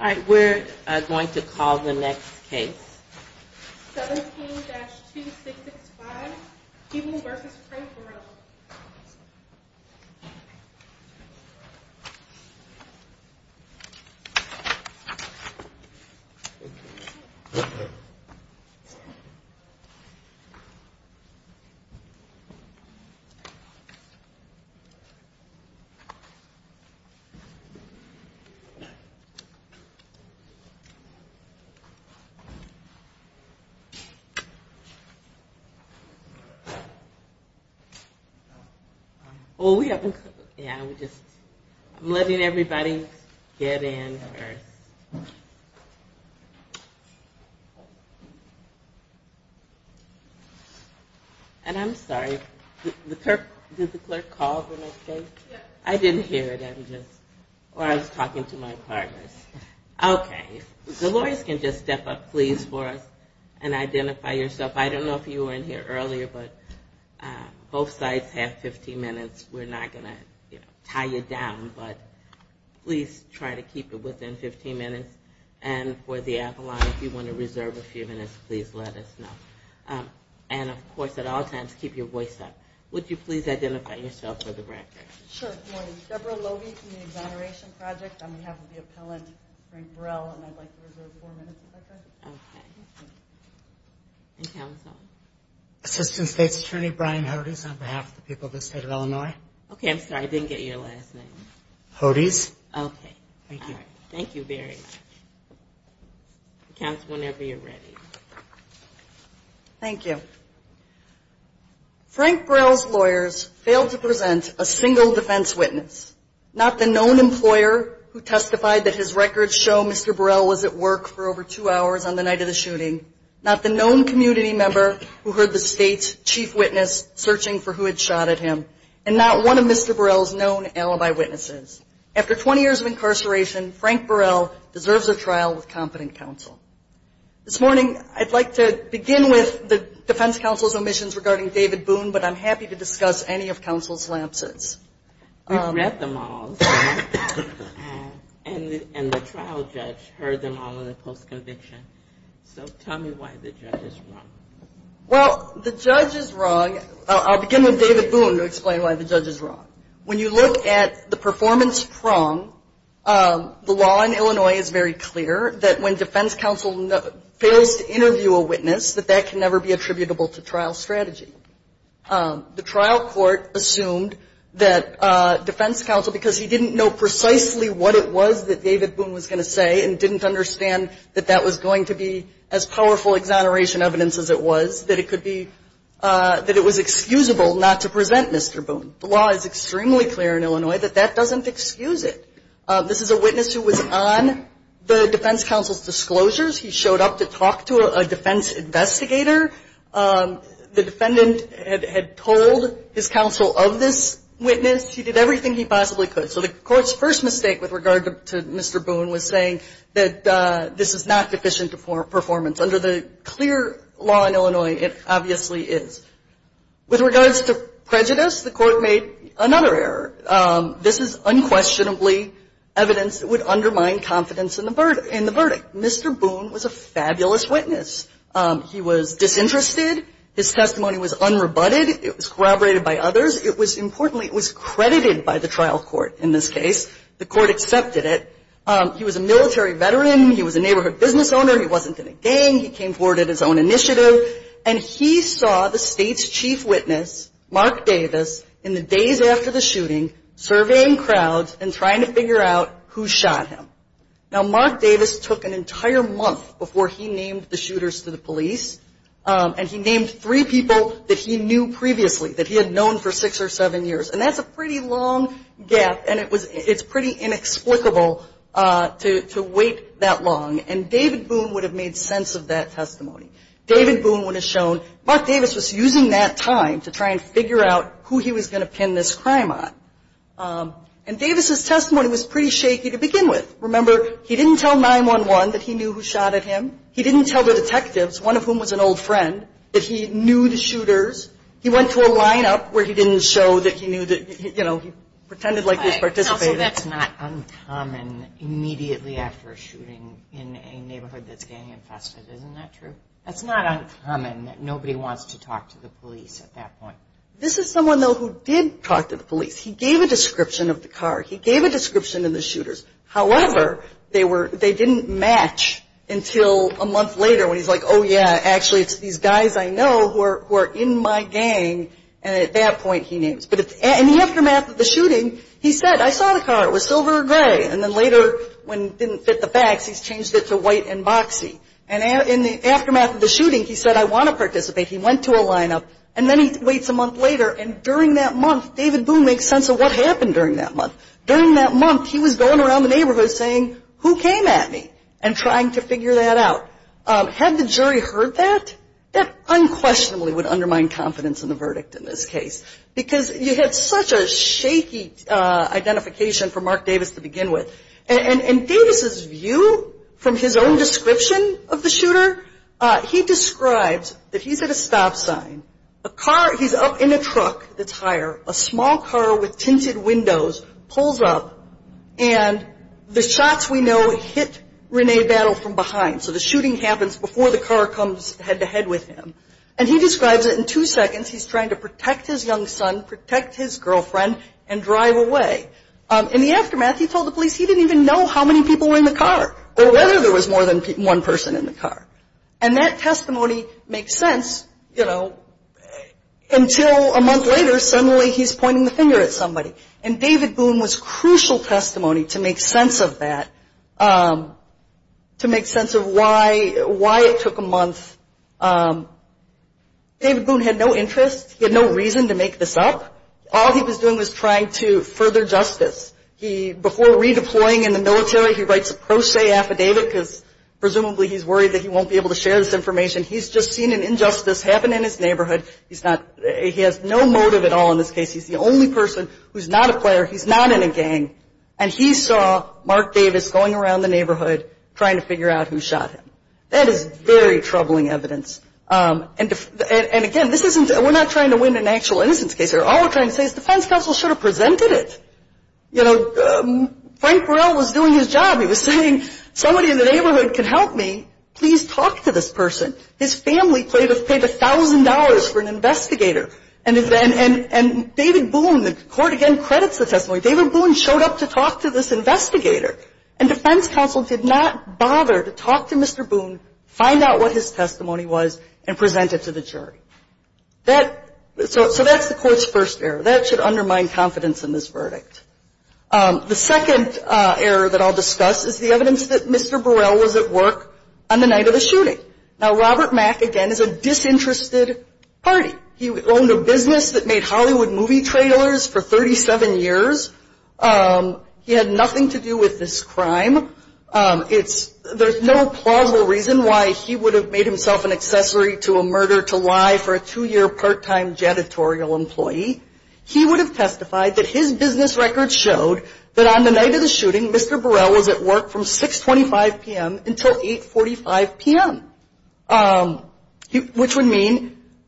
All right, we're going to call the next case. 17-2665, Peeble v. Craig Burrell. I'm letting everybody get in first. And I'm sorry, did the clerk call the next case? I didn't hear it. Or I was talking to my partners. Okay, if the lawyers can just step up please for us and identify yourself. I don't know if you were in here earlier, but both sides have 15 minutes. We're not going to tie you down, but please try to keep it within 15 minutes. And for the Avalon, if you want to reserve a few minutes, please let us know. And of course, at all times, keep your voice up. Would you please identify yourself for the record? Sure. Deborah Lovie from the Exoneration Project on behalf of the appellant Frank Burrell. And I'd like to reserve four minutes if I could. Assistant State's Attorney Brian Hodes on behalf of the people of the state of Illinois. Okay, I'm sorry, I didn't get your last name. Hodes. Thank you. Thank you very much. You can ask whenever you're ready. Thank you. Frank Burrell's lawyers failed to present a single defense witness. Not the known employer who testified that his records show Mr. Burrell was at work for over two hours on the night of the shooting. Not the known community member who heard the state's chief witness searching for who had shot at him. And not one of Mr. Burrell's known alibi witnesses. After 20 years of incarceration, Frank Burrell deserves a trial with competent counsel. This morning, I'd like to begin with the defense counsel's omissions regarding David Boone, but I'm happy to discuss any of counsel's lapses. You read them all. And the trial judge heard them all in the post-conviction. So tell me why the judge is wrong. Well, the judge is wrong. I'll begin with David Boone to explain why the judge is wrong. When you look at the performance prong, the law in Illinois is very clear that when defense counsel fails to interview a witness, that that can never be attributable to trial strategy. The trial court assumed that defense counsel, because he didn't know precisely what it was that David Boone was going to say, and didn't understand that that was going to be as powerful exoneration evidence as it was, that it could be, that it was excusable not to present Mr. Boone. The law is extremely clear in Illinois that that doesn't excuse it. This is a witness who was on the defense counsel's disclosures. He showed up to talk to a defense investigator. The defendant had told his counsel of this witness. He did everything he possibly could. So the court's first mistake with regard to Mr. Boone was saying that this is not deficient performance. Under the clear law in Illinois, it obviously is. With regards to prejudice, the court made another error. This is unquestionably evidence that would undermine confidence in the verdict. Mr. Boone was a fabulous witness. He was disinterested. His testimony was unrebutted. It was corroborated by others. It was importantly, it was credited by the trial court in this case. The court accepted it. He was a military veteran. He was a neighborhood business owner. He wasn't in a gang. He came forward at his own initiative. And he saw the state's chief witness, Mark Davis, in the days after the shooting, surveying crowds and trying to figure out who shot him. Now, Mark Davis took an entire month before he named the shooters to the police. And he named three people that he knew previously, that he had known for six or seven years. And that's a pretty long gap. And it's pretty inexplicable to wait that long. And David Boone would have made sense of that testimony. David Boone would have shown Mark Davis was using that time to try and figure out who he was going to pin this crime on. And Davis' testimony was pretty shaky to begin with. Remember, he didn't tell 911 that he knew who shot at him. He didn't tell the detectives, one of whom was an old friend, that he knew the shooters. He went to a lineup where he didn't show that he knew that, you know, he pretended like he was participating. That's not uncommon immediately after a shooting in a neighborhood that's gang infested. Isn't that true? That's not uncommon that nobody wants to talk to the police at that point. This is someone, though, who did talk to the police. He gave a description of the car. He gave a description of the shooters. However, they were, they didn't match until a month later when he's like, oh, yeah, actually, it's these guys I know who are in my gang. And at that point he names. But in the aftermath of the shooting, he said, I saw the car. It was silver or gray. And then later, when it didn't fit the facts, he's changed it to white and boxy. And in the aftermath of the shooting, he said, I want to participate. He went to a lineup. And then he waits a month later. And during that month, David Boone makes sense of what happened during that month. During that month, he was going around the neighborhood saying, who came at me? And trying to figure that out. Had the jury heard that, that unquestionably would undermine confidence in the verdict in this case. Because you had such a shaky identification for Mark Davis to begin with. And Davis' view from his own description of the shooter, he describes that he's at a stop sign. A car, he's up in a truck that's higher. A small car with tinted windows pulls up. And the shots we know hit Renee Battle from behind. So the shooting happens before the car comes head to head with him. And he describes it in two seconds. He's trying to protect his young son, protect his girlfriend, and drive away. In the aftermath, he told the police he didn't even know how many people were in the car. Or whether there was more than one person in the car. And that testimony makes sense until a month later, suddenly he's pointing the finger at somebody. And David Boone was crucial testimony to make sense of that. To make sense of why it took a month. David Boone had no interest. He had no reason to make this up. All he was doing he writes a pro se affidavit because presumably he's worried that he won't be able to share this information. He's just seen an injustice happen in his neighborhood. He's not he has no motive at all in this case. He's the only person who's not a player. He's not in a gang. And he saw Mark Davis going around the neighborhood trying to figure out who shot him. That is very troubling evidence. And again, this isn't, we're not trying to win an actual innocence case here. All we're trying to say is defense counsel should have presented it. You know, Frank Burrell was doing his job. He was saying somebody in the neighborhood can help me. Please talk to this person. His family paid $1,000 for an investigator. And David Boone, the Court again credits the testimony, David Boone showed up to talk to this investigator. And defense counsel did not bother to talk to Mr. Boone, find out what his testimony was, and present it to the jury. So that's the Court's first error. That should undermine confidence in this verdict. The second error that I'll discuss is the evidence that Mr. Burrell was at work on the night of the shooting. Now Robert Mack, again, is a disinterested party. He owned a business that made Hollywood movie trailers for 37 years. He had nothing to do with this crime. There's no plausible reason why he would have made himself an accessory to a murder to lie for a two-year part-time janitorial employee. He would have testified that his business record showed that on the night of the shooting, Mr. Burrell was at work from 625 p.m. until 845 p.m. And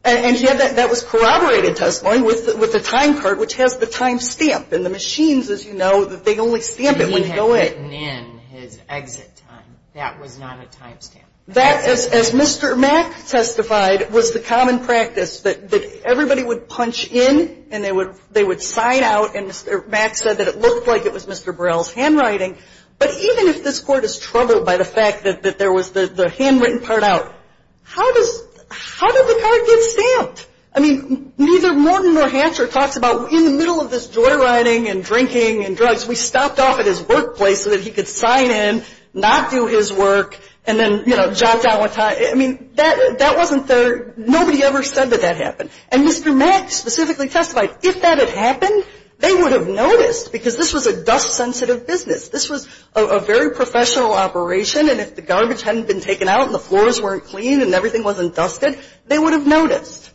that was corroborated testimony with a time card which has the time stamp. And the machines, as you know, they only stamp it when you go in. He had written in his exit time. That was not a time stamp. That, as Mr. Mack testified, was the common practice that everybody would punch in and they would sign out and Mr. Mack said that it looked like it was Mr. Burrell's handwriting. But even if this court is troubled by the fact that there was the handwritten part out, how did the card get stamped? Neither Morton nor Hatcher talks about in the middle of this joyriding and drinking and drugs, we stopped off at his workplace so that he could sign in, not do his work, and then jot down what time. I mean, that wasn't there. Nobody ever said that that happened. And Mr. Mack specifically testified, if that had happened, they would have noticed because this was a dust-sensitive business. This was a very professional operation, and if the garbage hadn't been taken out and the floors weren't clean and everything wasn't dusted, they would have noticed.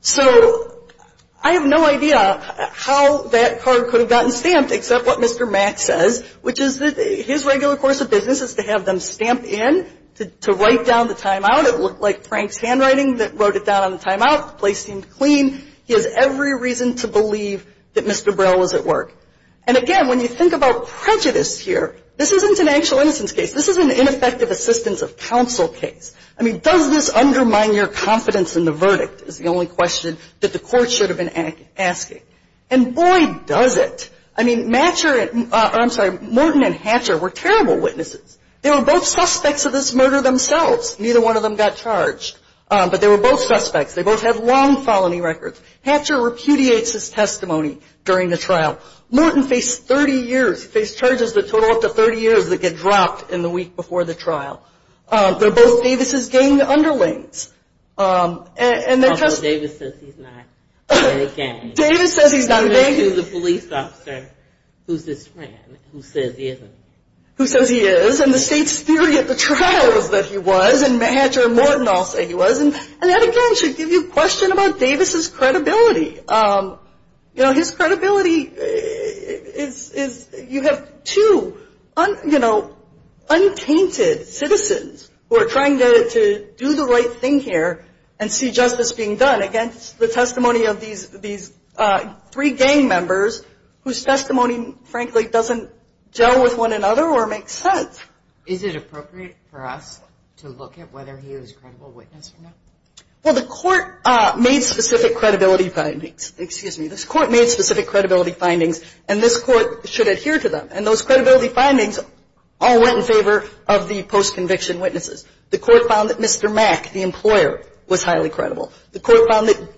So I have no idea how that card could have gotten stamped except what Mr. Mack says, which is that his regular course of business is to have them stamp in, to write down the timeout. It looked like Frank's handwriting that wrote it down on the timeout. The place seemed clean. He has every reason to believe that Mr. Burrell was at work. And again, when you think about prejudice here, this isn't an actual innocence case. This is an ineffective assistance of counsel case. I mean, does this undermine your confidence in the verdict is the only question that the Court should have been asking. And boy, does it. I mean, Matcher or, I'm sorry, Morton and Hatcher were terrible witnesses. They were both suspects of this murder themselves. Neither one of them got charged. But they were both suspects. They both have long felony records. Hatcher repudiates his testimony during the trial. Morton faced 30 years. He faced charges that total up to 30 years that get dropped in the week before the trial. They're both Davis' gang underlings. Although Davis says he's not a gang. Davis says he's not a gang. He's a police officer who's his friend, who says he isn't. Who says he is. And the state's theory at the trial is that he was. And Matcher and Morton all say he was. And that, again, should give you a question about Davis' credibility. You know, his credibility is, you have two, you know, untainted citizens who are trying to do the right thing here and see justice being done against the testimony of these three gang members whose testimony, frankly, doesn't gel with one another or make sense. Is it appropriate for us to look at whether he was a credible witness or not? Well, the court made specific credibility findings. Excuse me. This court made specific credibility findings. And this court should adhere to them. And those credibility findings all went in favor of the post-conviction witnesses. The court found that Mr. Mack, the employer, was highly credible. The court found that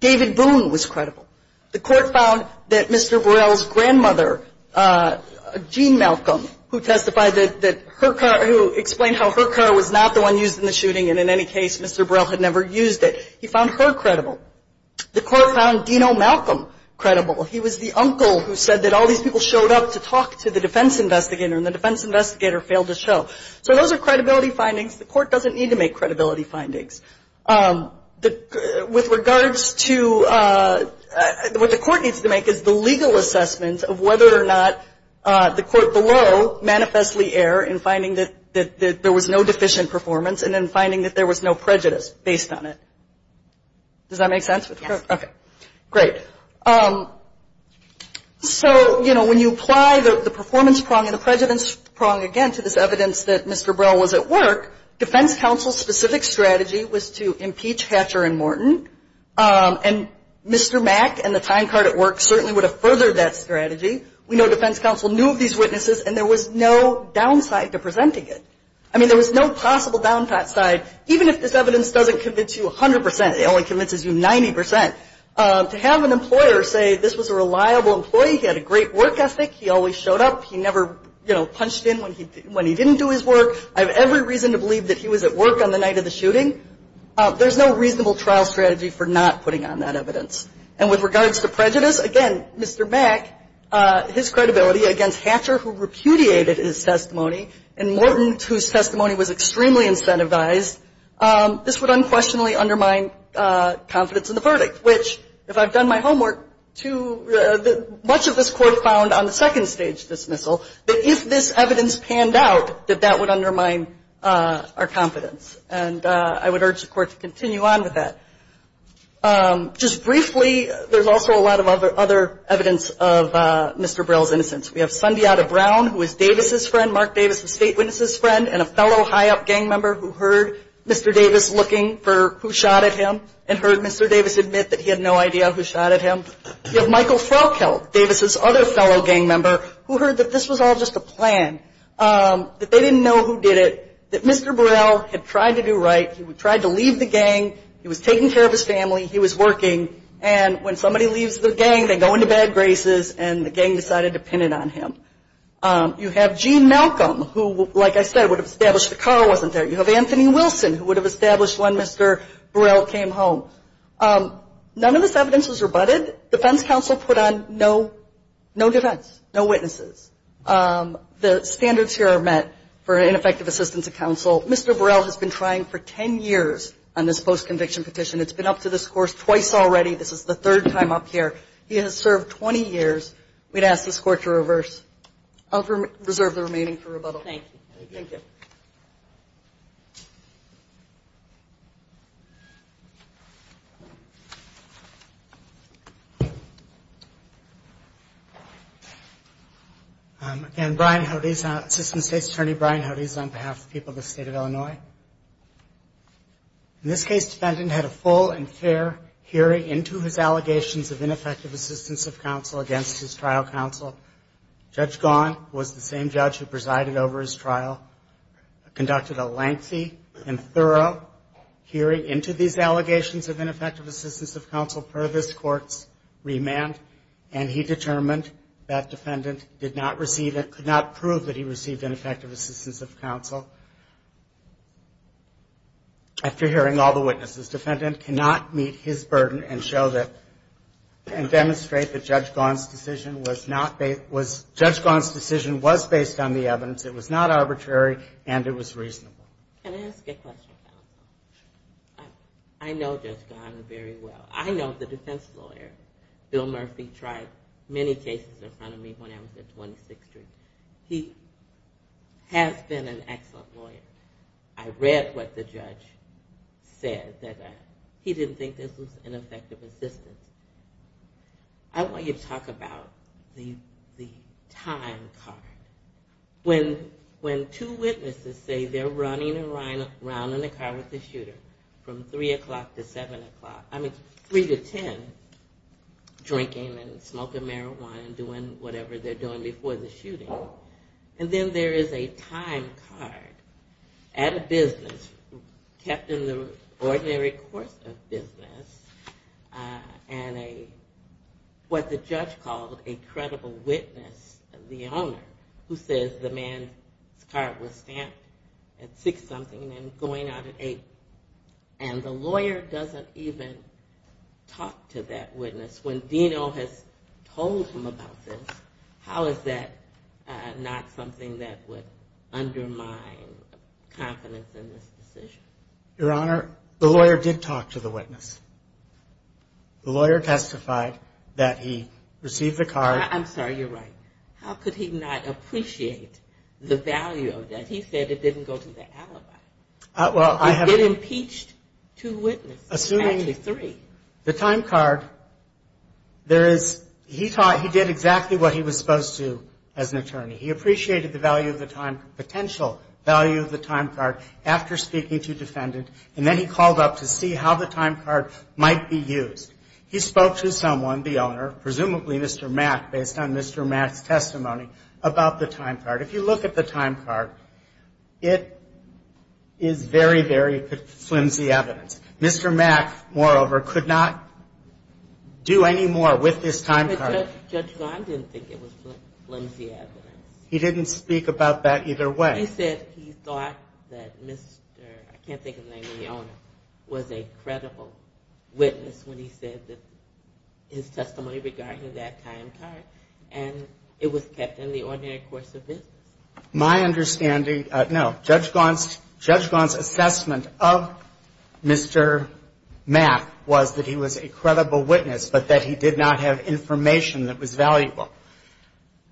David Boone was credible. The court found that Mr. Burrell's grandmother, Jean Malcolm, who testified that her car, who explained how her car was not the one used in the shooting and, in any case, Mr. Burrell had never used it, he found her credible. The court found Dino Malcolm credible. He was the uncle who said that all these people showed up to talk to the defense investigator and the defense investigator failed to show. So those are credibility findings. The court doesn't need to make credibility findings. With regards to what the court needs to make is the legal assessment of whether or not the court below manifestly err in finding that there was no deficient performance and then finding that there was no prejudice based on it. Does that make sense? Yes. Okay. Great. So, you know, when you apply the performance prong and the prejudice prong, again, to this evidence that Mr. Burrell was at work, defense counsel's specific strategy was to impeach Hatcher and Morton. And Mr. Mack and the time card at work certainly would have furthered that strategy. We know defense counsel knew of these witnesses and there was no downside to presenting it. I mean, there was no possible downside, even if this evidence doesn't convince you 100%, it only convinces you 90%. To have an employer say this was a reliable employee, he had a great work ethic, he always showed up, he never, you know, punched in when he didn't do his work, I have every reason to believe that he was at work on the night of the shooting, there's no reasonable trial strategy for not putting on that evidence. And with regards to prejudice, again, Mr. Mack, his credibility against Hatcher who repudiated his testimony and Morton whose testimony was extremely incentivized, this would unquestionably undermine confidence in the verdict, which, if I've done my homework, much of this court found on the second stage dismissal that if this evidence panned out, that that would undermine our confidence. And I would urge the court to continue on with that. Just briefly, there's also a lot of other evidence of Mr. Burrell's innocence. We have Sundiata Brown, who is Davis's friend, Mark Davis was State Witness's friend and a fellow high-up gang member who heard Mr. Davis looking for who shot at him and heard Mr. Davis admit that he had no idea who shot at him. We have Michael Froehlke, Davis's other fellow gang member, who heard that this was all just a plan, that they didn't know who did it, that Mr. Burrell had tried to do right, he tried to leave the gang, he was taking care of his family, he was working, and when somebody leaves the gang, they go into bad graces and the gang decided to pin it on him. You have Gene Malcolm, who, like I said, would have established the car wasn't there. You have Anthony Wilson, who would have established when Mr. Burrell came home. None of this evidence was rebutted. Defense counsel put on no defense, no witnesses. The standards here are met for ineffective assistance of counsel. Mr. Burrell has been trying for 10 years on this post-conviction petition. It's been up to this court twice already. This is the third time up here. He has served 20 years. We'd ask this court to reverse. I'll reserve the remaining for rebuttal. Thank you. Thank you. Again, Brian Hodes, Assistant State's Attorney Brian Hodes on behalf of the people of the State of Illinois. In this case, defendant had a full and fair hearing into his allegations of ineffective assistance of counsel against his trial counsel. Judge Gaughan was the same judge who presided over his trial, conducted a lengthy and thorough hearing into these allegations of ineffective assistance of counsel per this court's remand, and he determined that defendant did not receive it, could not prove that he received ineffective assistance of counsel. After hearing all the witnesses, defendant cannot meet his burden and show that, and demonstrate that Judge Gaughan's decision was based on the evidence, it was not arbitrary, and it was reasonable. Can I ask a question? I know Judge Gaughan very well. I know the defense lawyer. Bill Murphy tried many cases in front of me when I was at 26th Street. He has been an excellent lawyer. I read what the judge said that he didn't think this was ineffective assistance. I want you to talk about the time card. When two witnesses say they're running around in the car with the shooter from 3 o'clock to 7 o'clock, I mean 3 to 10, drinking and smoking marijuana and doing whatever they're doing before the shooting, and then there is a time card at a business kept in the ordinary course of business, and what the judge called a credible witness, the owner, who says the man's card was stamped at 6 something and going out at 8, and the lawyer doesn't even talk to that witness when Dino has told him about this. How is that not something that would undermine confidence in this decision? Your Honor, the lawyer did talk to the witness. The lawyer testified that he received the card. I'm sorry, you're right. How could he not appreciate the value of that? He said it didn't go to the alibi. He did impeach two witnesses, actually three. Assuming the time card, he did exactly what he was supposed to as an attorney. He appreciated the value of the time, potential value of the time card after speaking to defendant, and then he called up to see how the time card might be used. He spoke to someone, the owner, presumably Mr. Mack, based on Mr. Mack's testimony about the time card. If you look at the time card, it is very, very flimsy evidence. Mr. Mack, moreover, could not do any more with this time card. Judge Gant didn't think it was flimsy evidence. He didn't speak about that either way. He said he thought that Mr. I can't think of the name of the owner, was a credible witness when he said that his testimony regarding that time card, and it was kept in the ordinary course of business. My understanding, no, Judge Gant's assessment of Mr. Mack was that he was a man who had a lot of time and a lot of information that was valuable.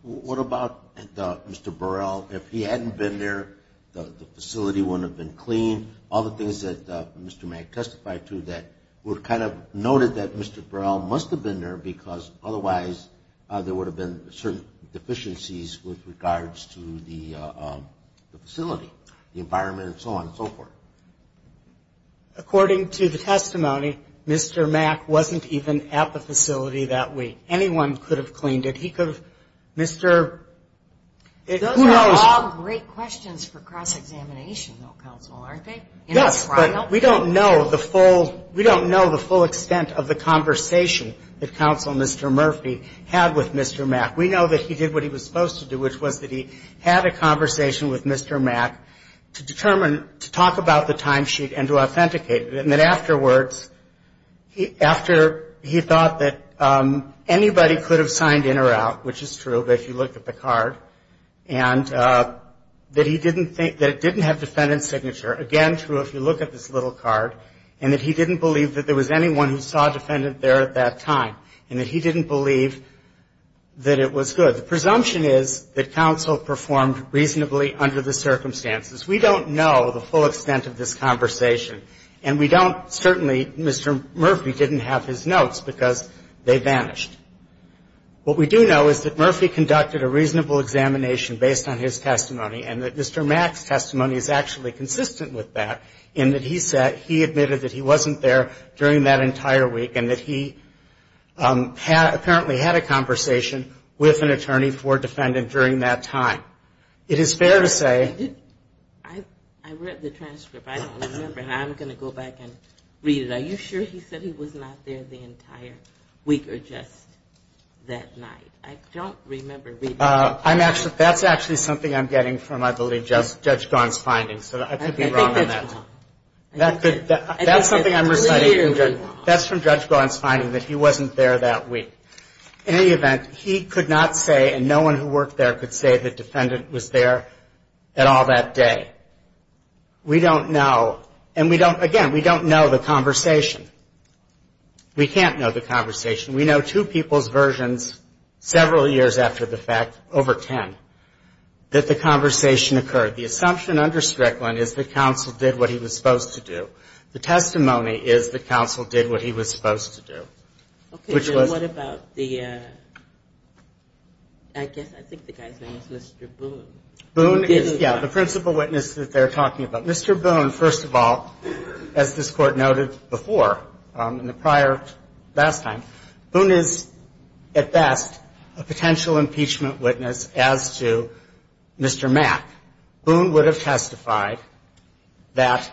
What about Mr. Burrell? If he hadn't been there, the facility wouldn't have been cleaned, all the things that Mr. Mack testified to that were kind of noted that Mr. Burrell must have been there because otherwise there would have been certain deficiencies with regards to the facility, the environment, and so on and so forth. Those are all great questions for cross-examination, though, counsel, aren't they? Yes, but we don't know the full extent of the conversation that Counsel Mr. Murphy had with Mr. Mack. We know that he did what he was supposed to do, which was that he had a conversation with Mr. Mack to talk about the timesheet and to authenticate that anybody could have signed in or out, which is true, but if you look at the card, and that he didn't think that it didn't have defendant's signature, again, true if you look at this little card, and that he didn't believe that there was anyone who saw a defendant there at that time and that he didn't believe that it was good. The presumption is that counsel performed reasonably under the circumstances. We don't know the full extent of this conversation, and we don't certainly Mr. Murphy didn't have his notes because they vanished. What we do know is that Murphy conducted a reasonable examination based on his testimony, and that Mr. Mack's testimony is actually consistent with that, in that he admitted that he wasn't there during that entire week and that he apparently had a conversation with an attorney for defendant during that time. It is fair to say. I read the transcript. I don't remember, and I'm going to go back and read it. Are you sure he said he was not there the entire week or just that night? I don't remember reading it. That's actually something I'm getting from, I believe, Judge Gaughan's findings, so I could be wrong on that. That's something I'm reciting. That's from Judge Gaughan's finding, that he wasn't there that week. In any event, he could not say, and no one who worked there could say the defendant was there at all that day. We don't know, and we don't, again, we don't know the conversation. We can't know the conversation. We know two people's versions several years after the fact, over ten, that the conversation occurred. The assumption under Strickland is the counsel did what he was supposed to do. The testimony is the counsel did what he was supposed to do. Okay, and what about the, I guess, I think the guy's name is Mr. Boone. Boone is, yeah, the principal witness that they're talking about. Mr. Boone, first of all, as this Court noted before, in the prior, last time, Boone is, at best, a potential impeachment witness as to Mr. Mack. Boone would have testified that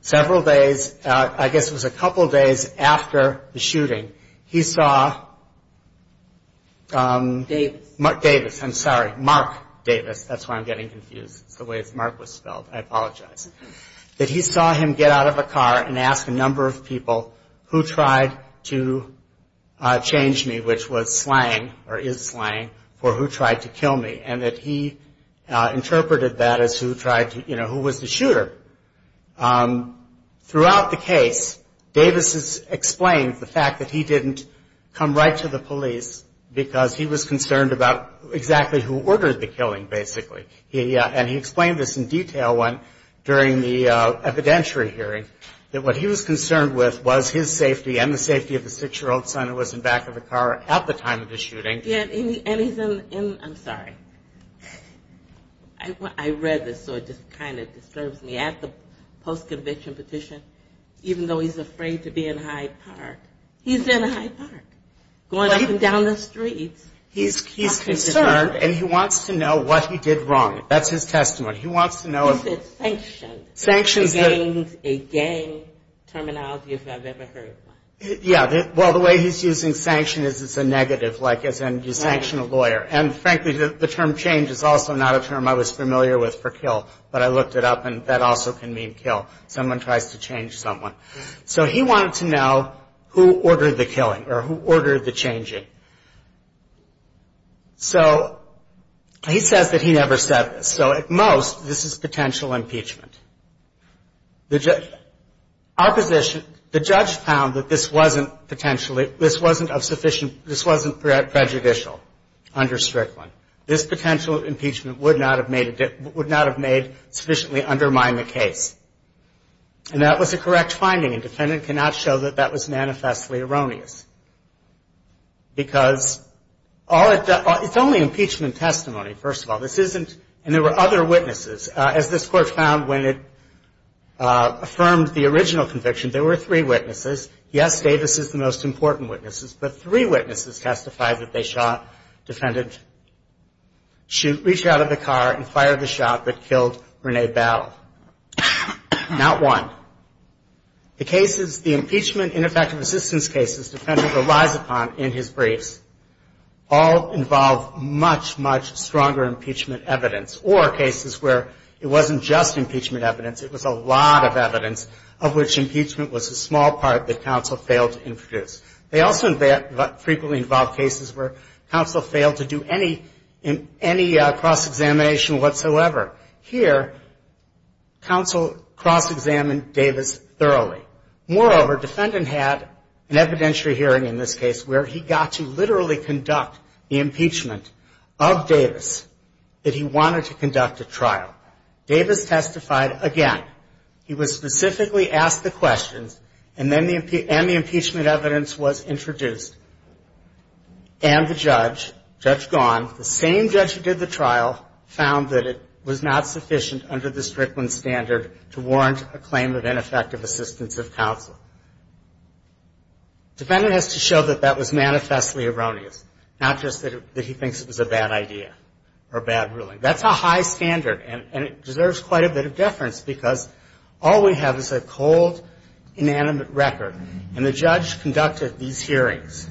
several days, I guess it was a couple days after the shooting, he saw Davis, I'm sorry, Mark Davis, that's why I'm getting confused. It's the way Mark was spelled. I apologize. That he saw him get out of a car and ask a number of people who tried to change me, which was slang, or is slang, for who tried to kill me, and that he interpreted that as who tried to, you know, who was the shooter. Throughout the case, Davis has explained the fact that he didn't come right to the police, because he was concerned about exactly who ordered the killing, basically. And he explained this in detail during the evidentiary hearing, that what he was concerned with was his safety and the safety of the six-year-old son who was in back of the car at the time of the shooting. And he's in, I'm sorry, I read this, so it just kind of disturbs me. He's at the post-conviction petition, even though he's afraid to be in Hyde Park. He's in Hyde Park, going up and down the streets. He's concerned, and he wants to know what he did wrong. That's his testimony. He wants to know. He said sanction. Sanction is a gang terminology, if I've ever heard one. Yeah, well, the way he's using sanction is it's a negative, like as in you sanction a lawyer. And frankly, the term change is also not a term I was familiar with for kill, but I looked it up, and that also can mean kill. Someone tries to change someone. So he wanted to know who ordered the killing, or who ordered the changing. So he says that he never said this. So at most, this is potential impeachment. The judge found that this wasn't prejudicial under Strickland. This potential impeachment would not have sufficiently undermined the case. And that was a correct finding, and the defendant cannot show that that was manifestly erroneous. Because it's only impeachment testimony, first of all, and there were other cases where the defendant affirmed the original conviction. There were three witnesses. Yes, Davis is the most important witness, but three witnesses testified that they shot, defended, reached out of the car, and fired the shot that killed Renee Bell. Not one. The cases, the impeachment, ineffective assistance cases, the defendant relies upon in his briefs, all involve much, much stronger impeachment evidence. Or cases where it wasn't just impeachment evidence. It was a lot of evidence of which impeachment was a small part that counsel failed to introduce. They also frequently involved cases where counsel failed to do any cross-examination whatsoever. Here, counsel cross-examined Davis thoroughly. Moreover, the defendant had an evidentiary hearing in this case where he got to literally conduct the impeachment of Davis that he wanted to conduct a trial. Davis testified again. He was specifically asked the questions, and the impeachment evidence was introduced. And the judge, Judge Gaughan, the same judge who did the trial, found that it was not sufficient under the Strickland standard to warrant a claim of ineffective assistance of counsel. The defendant has to show that that was manifestly erroneous, not just that he thinks it was a bad idea or a bad ruling. That's a high standard, and it deserves quite a bit of deference because all we have is a cold, inanimate record. And the judge conducted these hearings.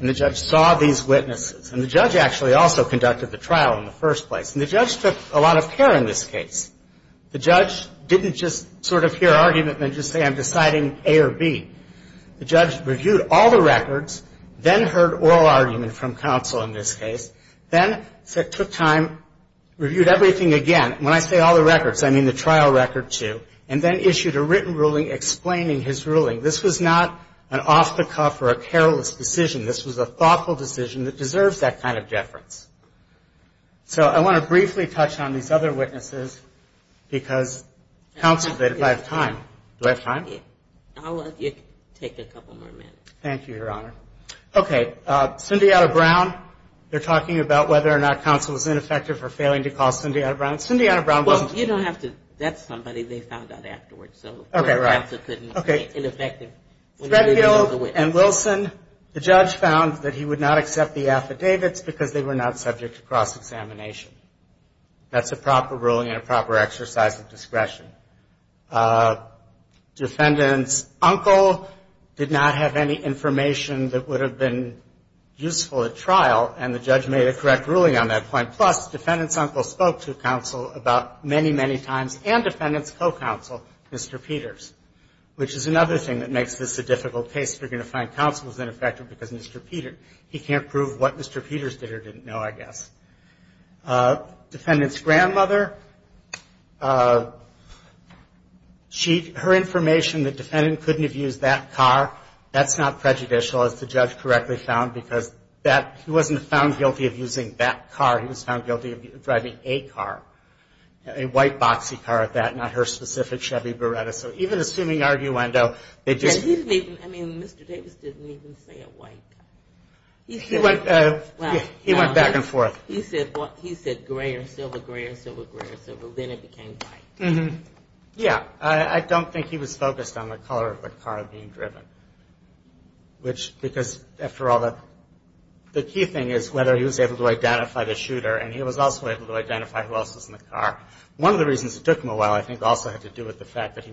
And the judge saw these witnesses. And the judge actually also conducted the trial in the first place. And the judge took a lot of care in this case. The judge didn't just sort of hear argument and then just say, I'm deciding A or B. The judge reviewed all the records, then heard oral argument from counsel in this case, then took time, reviewed everything again. When I say all the records, I mean the trial record, too. And then issued a written ruling explaining his ruling. This was not an off-the-cuff or a careless decision. This was a thoughtful decision that deserves that kind of deference. So I want to briefly touch on these other witnesses because counsel, they don't have time. Do I have time? I'll let you take a couple more minutes. Thank you, Your Honor. Okay. Cyndianna Brown. They're talking about whether or not counsel was ineffective for failing to call Cyndianna Brown. Cyndianna Brown wasn't. Well, you don't have to. That's somebody they found out afterwards. Okay, right. Okay. Threadfield and Wilson, the judge found that he would not accept the affidavits because they were not subject to cross-examination. That's a proper ruling and a proper exercise of discretion. Defendant's uncle did not have any information that would have been useful at trial, and the judge made a correct ruling on that point. Plus, defendant's uncle spoke to counsel about many, many times and defendant's co-counsel, Mr. Peters, which is another thing that makes this a difficult case. They're going to find counsel was ineffective because Mr. Peters, he can't prove what Mr. Peters did or didn't know, I guess. Defendant's grandmother, her information that defendant couldn't have used that car, that's not prejudicial, as the judge correctly found, because he wasn't found guilty of using that car. He was found guilty of driving a car, a white boxy car at that, not her specific Chevy Beretta. So even assuming arguendo, they just I mean, Mr. Davis didn't even say a white car. He went back and forth. He said gray or silver, gray or silver, gray or silver. Then it became white. Yeah. I don't think he was focused on the color of the car being driven, which because, after all, the key thing is whether he was able to identify the shooter, and he was also able to identify who else was in the car. One of the reasons it took him a while, I think, also had to do with the fact that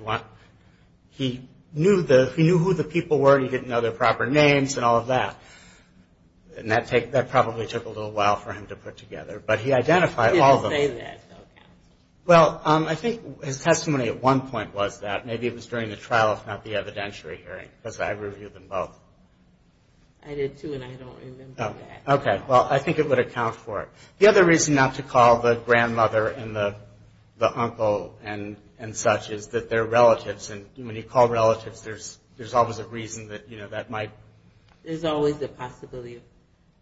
he knew who the people were and he didn't know their proper names and all of that. And that probably took a little while for him to put together. But he identified all of them. He didn't say that. Okay. Well, I think his testimony at one point was that. Maybe it was during the trial, if not the evidentiary hearing, because I reviewed them both. I did, too, and I don't remember that. Okay. Well, I think it would account for it. The other reason not to call the grandmother and the uncle and such is that they're relatives, and when you call relatives, there's always a reason that, you know, that might There's always a possibility of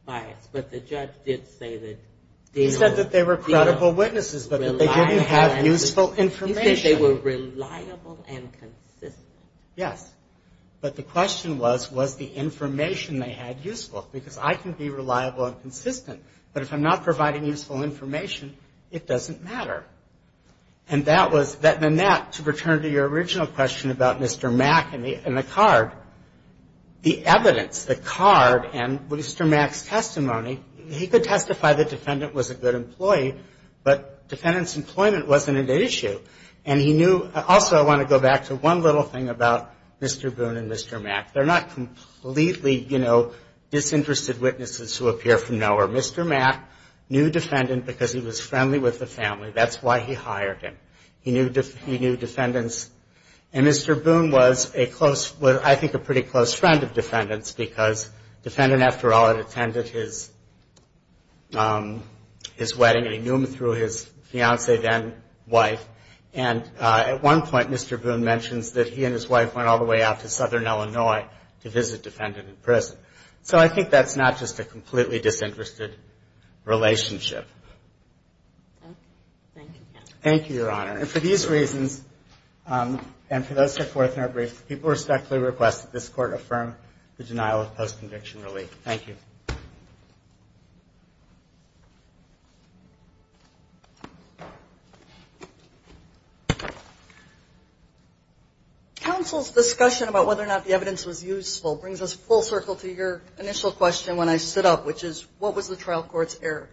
bias. But the judge did say that they were He said that they were credible witnesses, but that they didn't have useful information. He said they were reliable and consistent. Yes. But the question was, was the information they had useful? Because I can be reliable and consistent, but if I'm not providing useful information, it doesn't matter. And that was that Manette, to return to your original question about Mr. Mack and the card, the evidence, the card, and Mr. Mack's testimony, he could testify the defendant was a good employee, but defendant's employment wasn't an issue. And he knew also I want to go back to one little thing about Mr. Boone and Mr. Mack. They're not completely, you know, disinterested witnesses who appear from nowhere. Mr. Mack knew defendant because he was friendly with the family. That's why he hired him. He knew defendants. And Mr. Boone was a close, I think a pretty close friend of defendants because defendant, after all, had attended his wedding and he knew him through his fiancee then wife. And at one point Mr. Boone mentions that he and his wife went all the way out to southern Illinois to visit defendant in prison. So I think that's not just a completely disinterested relationship. Thank you. Thank you, Your Honor. And for these reasons, and for those who are forth in our brief, people respectfully request that this court affirm the denial of post-conviction relief. Thank you. Counsel's discussion about whether or not the evidence was useful brings us full circle to your initial question when I stood up, which is what was the trial court's error?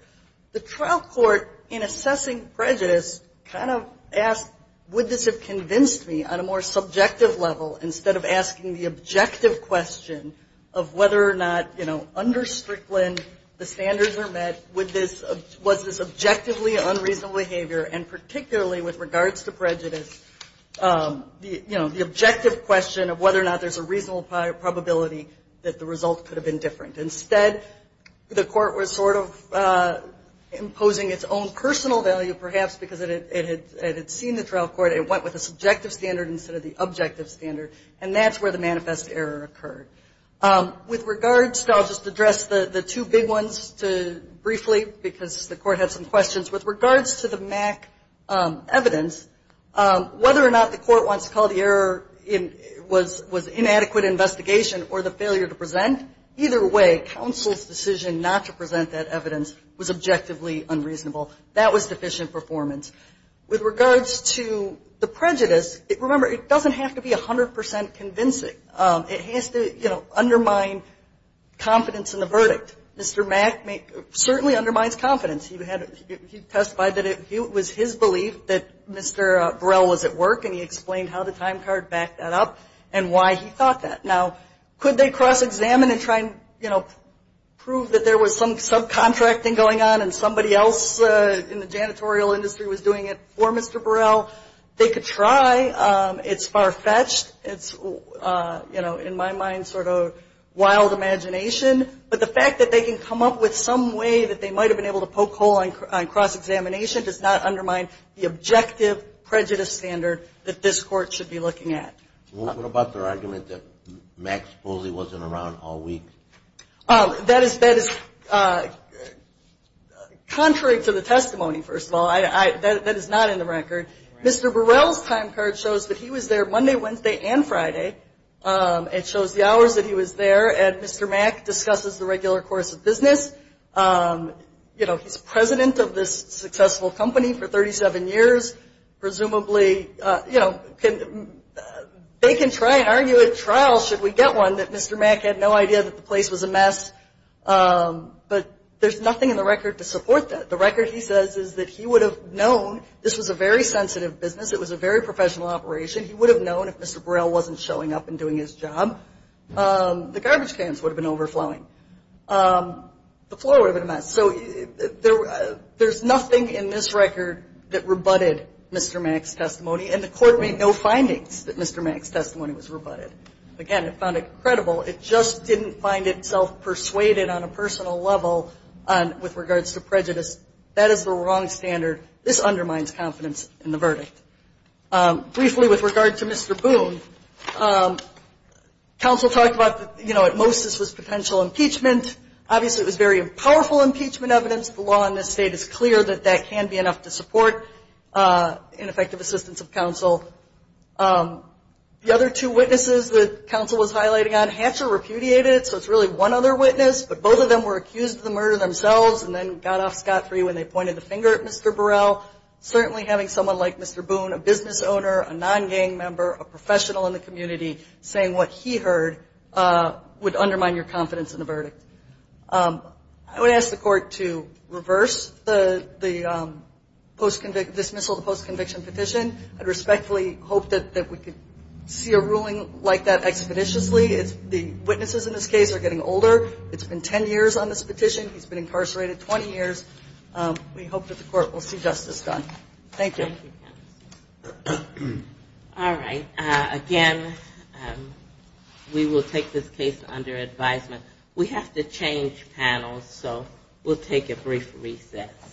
The trial court in assessing prejudice kind of asked would this have convinced me on a more subjective level instead of asking the objective question of whether or not, you know, under Strickland the standards were met, was this objectively unreasonable behavior, and particularly with regards to prejudice, you know, the objective question of whether or not there's a reasonable probability that the result could have been different. Instead, the court was sort of imposing its own personal value perhaps because it had seen the trial court, it went with a subjective standard instead of the objective standard, and that's where the manifest error occurred. With regards to, I'll just address the two big ones briefly because the court had some questions. With regards to the MAC evidence, whether or not the court wants to call the error was inadequate investigation or the failure to present, either way, counsel's decision not to present that evidence was objectively unreasonable. That was deficient performance. With regards to the prejudice, remember, it doesn't have to be 100 percent convincing. It has to, you know, undermine confidence in the verdict. Mr. MAC certainly undermines confidence. He testified that it was his belief that Mr. Burrell was at work, and he explained how the time card backed that up and why he thought that. Now, could they cross-examine and try and, you know, prove that there was some subcontracting going on and somebody else in the janitorial industry was doing it for Mr. Burrell? They could try. It's far-fetched. It's, you know, in my mind sort of wild imagination. But the fact that they can come up with some way that they might have been able to poke hole on cross-examination does not undermine the objective prejudice standard that this court should be looking at. What about their argument that MAC supposedly wasn't around all week? That is contrary to the testimony, first of all. That is not in the record. Mr. Burrell's time card shows that he was there Monday, Wednesday, and Friday. It shows the hours that he was there. And Mr. MAC discusses the regular course of business. You know, he's president of this successful company for 37 years. Presumably, you know, they can try and argue at trial should we get one that Mr. MAC had no idea that the place was a mess. But there's nothing in the record to support that. The record, he says, is that he would have known this was a very sensitive business. It was a very professional operation. He would have known if Mr. Burrell wasn't showing up and doing his job, the garbage cans would have been overflowing. The floor would have been a mess. So there's nothing in this record that rebutted Mr. MAC's testimony. And the court made no findings that Mr. MAC's testimony was rebutted. Again, it found it credible. It just didn't find itself persuaded on a personal level with regards to prejudice. That is the wrong standard. This undermines confidence in the verdict. Briefly, with regard to Mr. Boone, counsel talked about, you know, at most this was potential impeachment. Obviously it was very powerful impeachment evidence. The law in this state is clear that that can be enough to support ineffective assistance of counsel. The other two witnesses that counsel was highlighting on, Hatcher repudiated it, so it's really one other witness. But both of them were accused of the murder themselves and then got off scot-free when they pointed the finger at Mr. Burrell. Certainly having someone like Mr. Boone, a business owner, a non-gang member, a professional in the community, saying what he heard would undermine your confidence in the verdict. I would ask the court to reverse the dismissal of the post-conviction petition. I respectfully hope that we could see a ruling like that expeditiously. The witnesses in this case are getting older. It's been ten years on this petition. He's been incarcerated 20 years. We hope that the court will see justice done. Thank you. Thank you, counsel. All right. Again, we will take this case under advisement. We have to change panels, so we'll take a brief reset.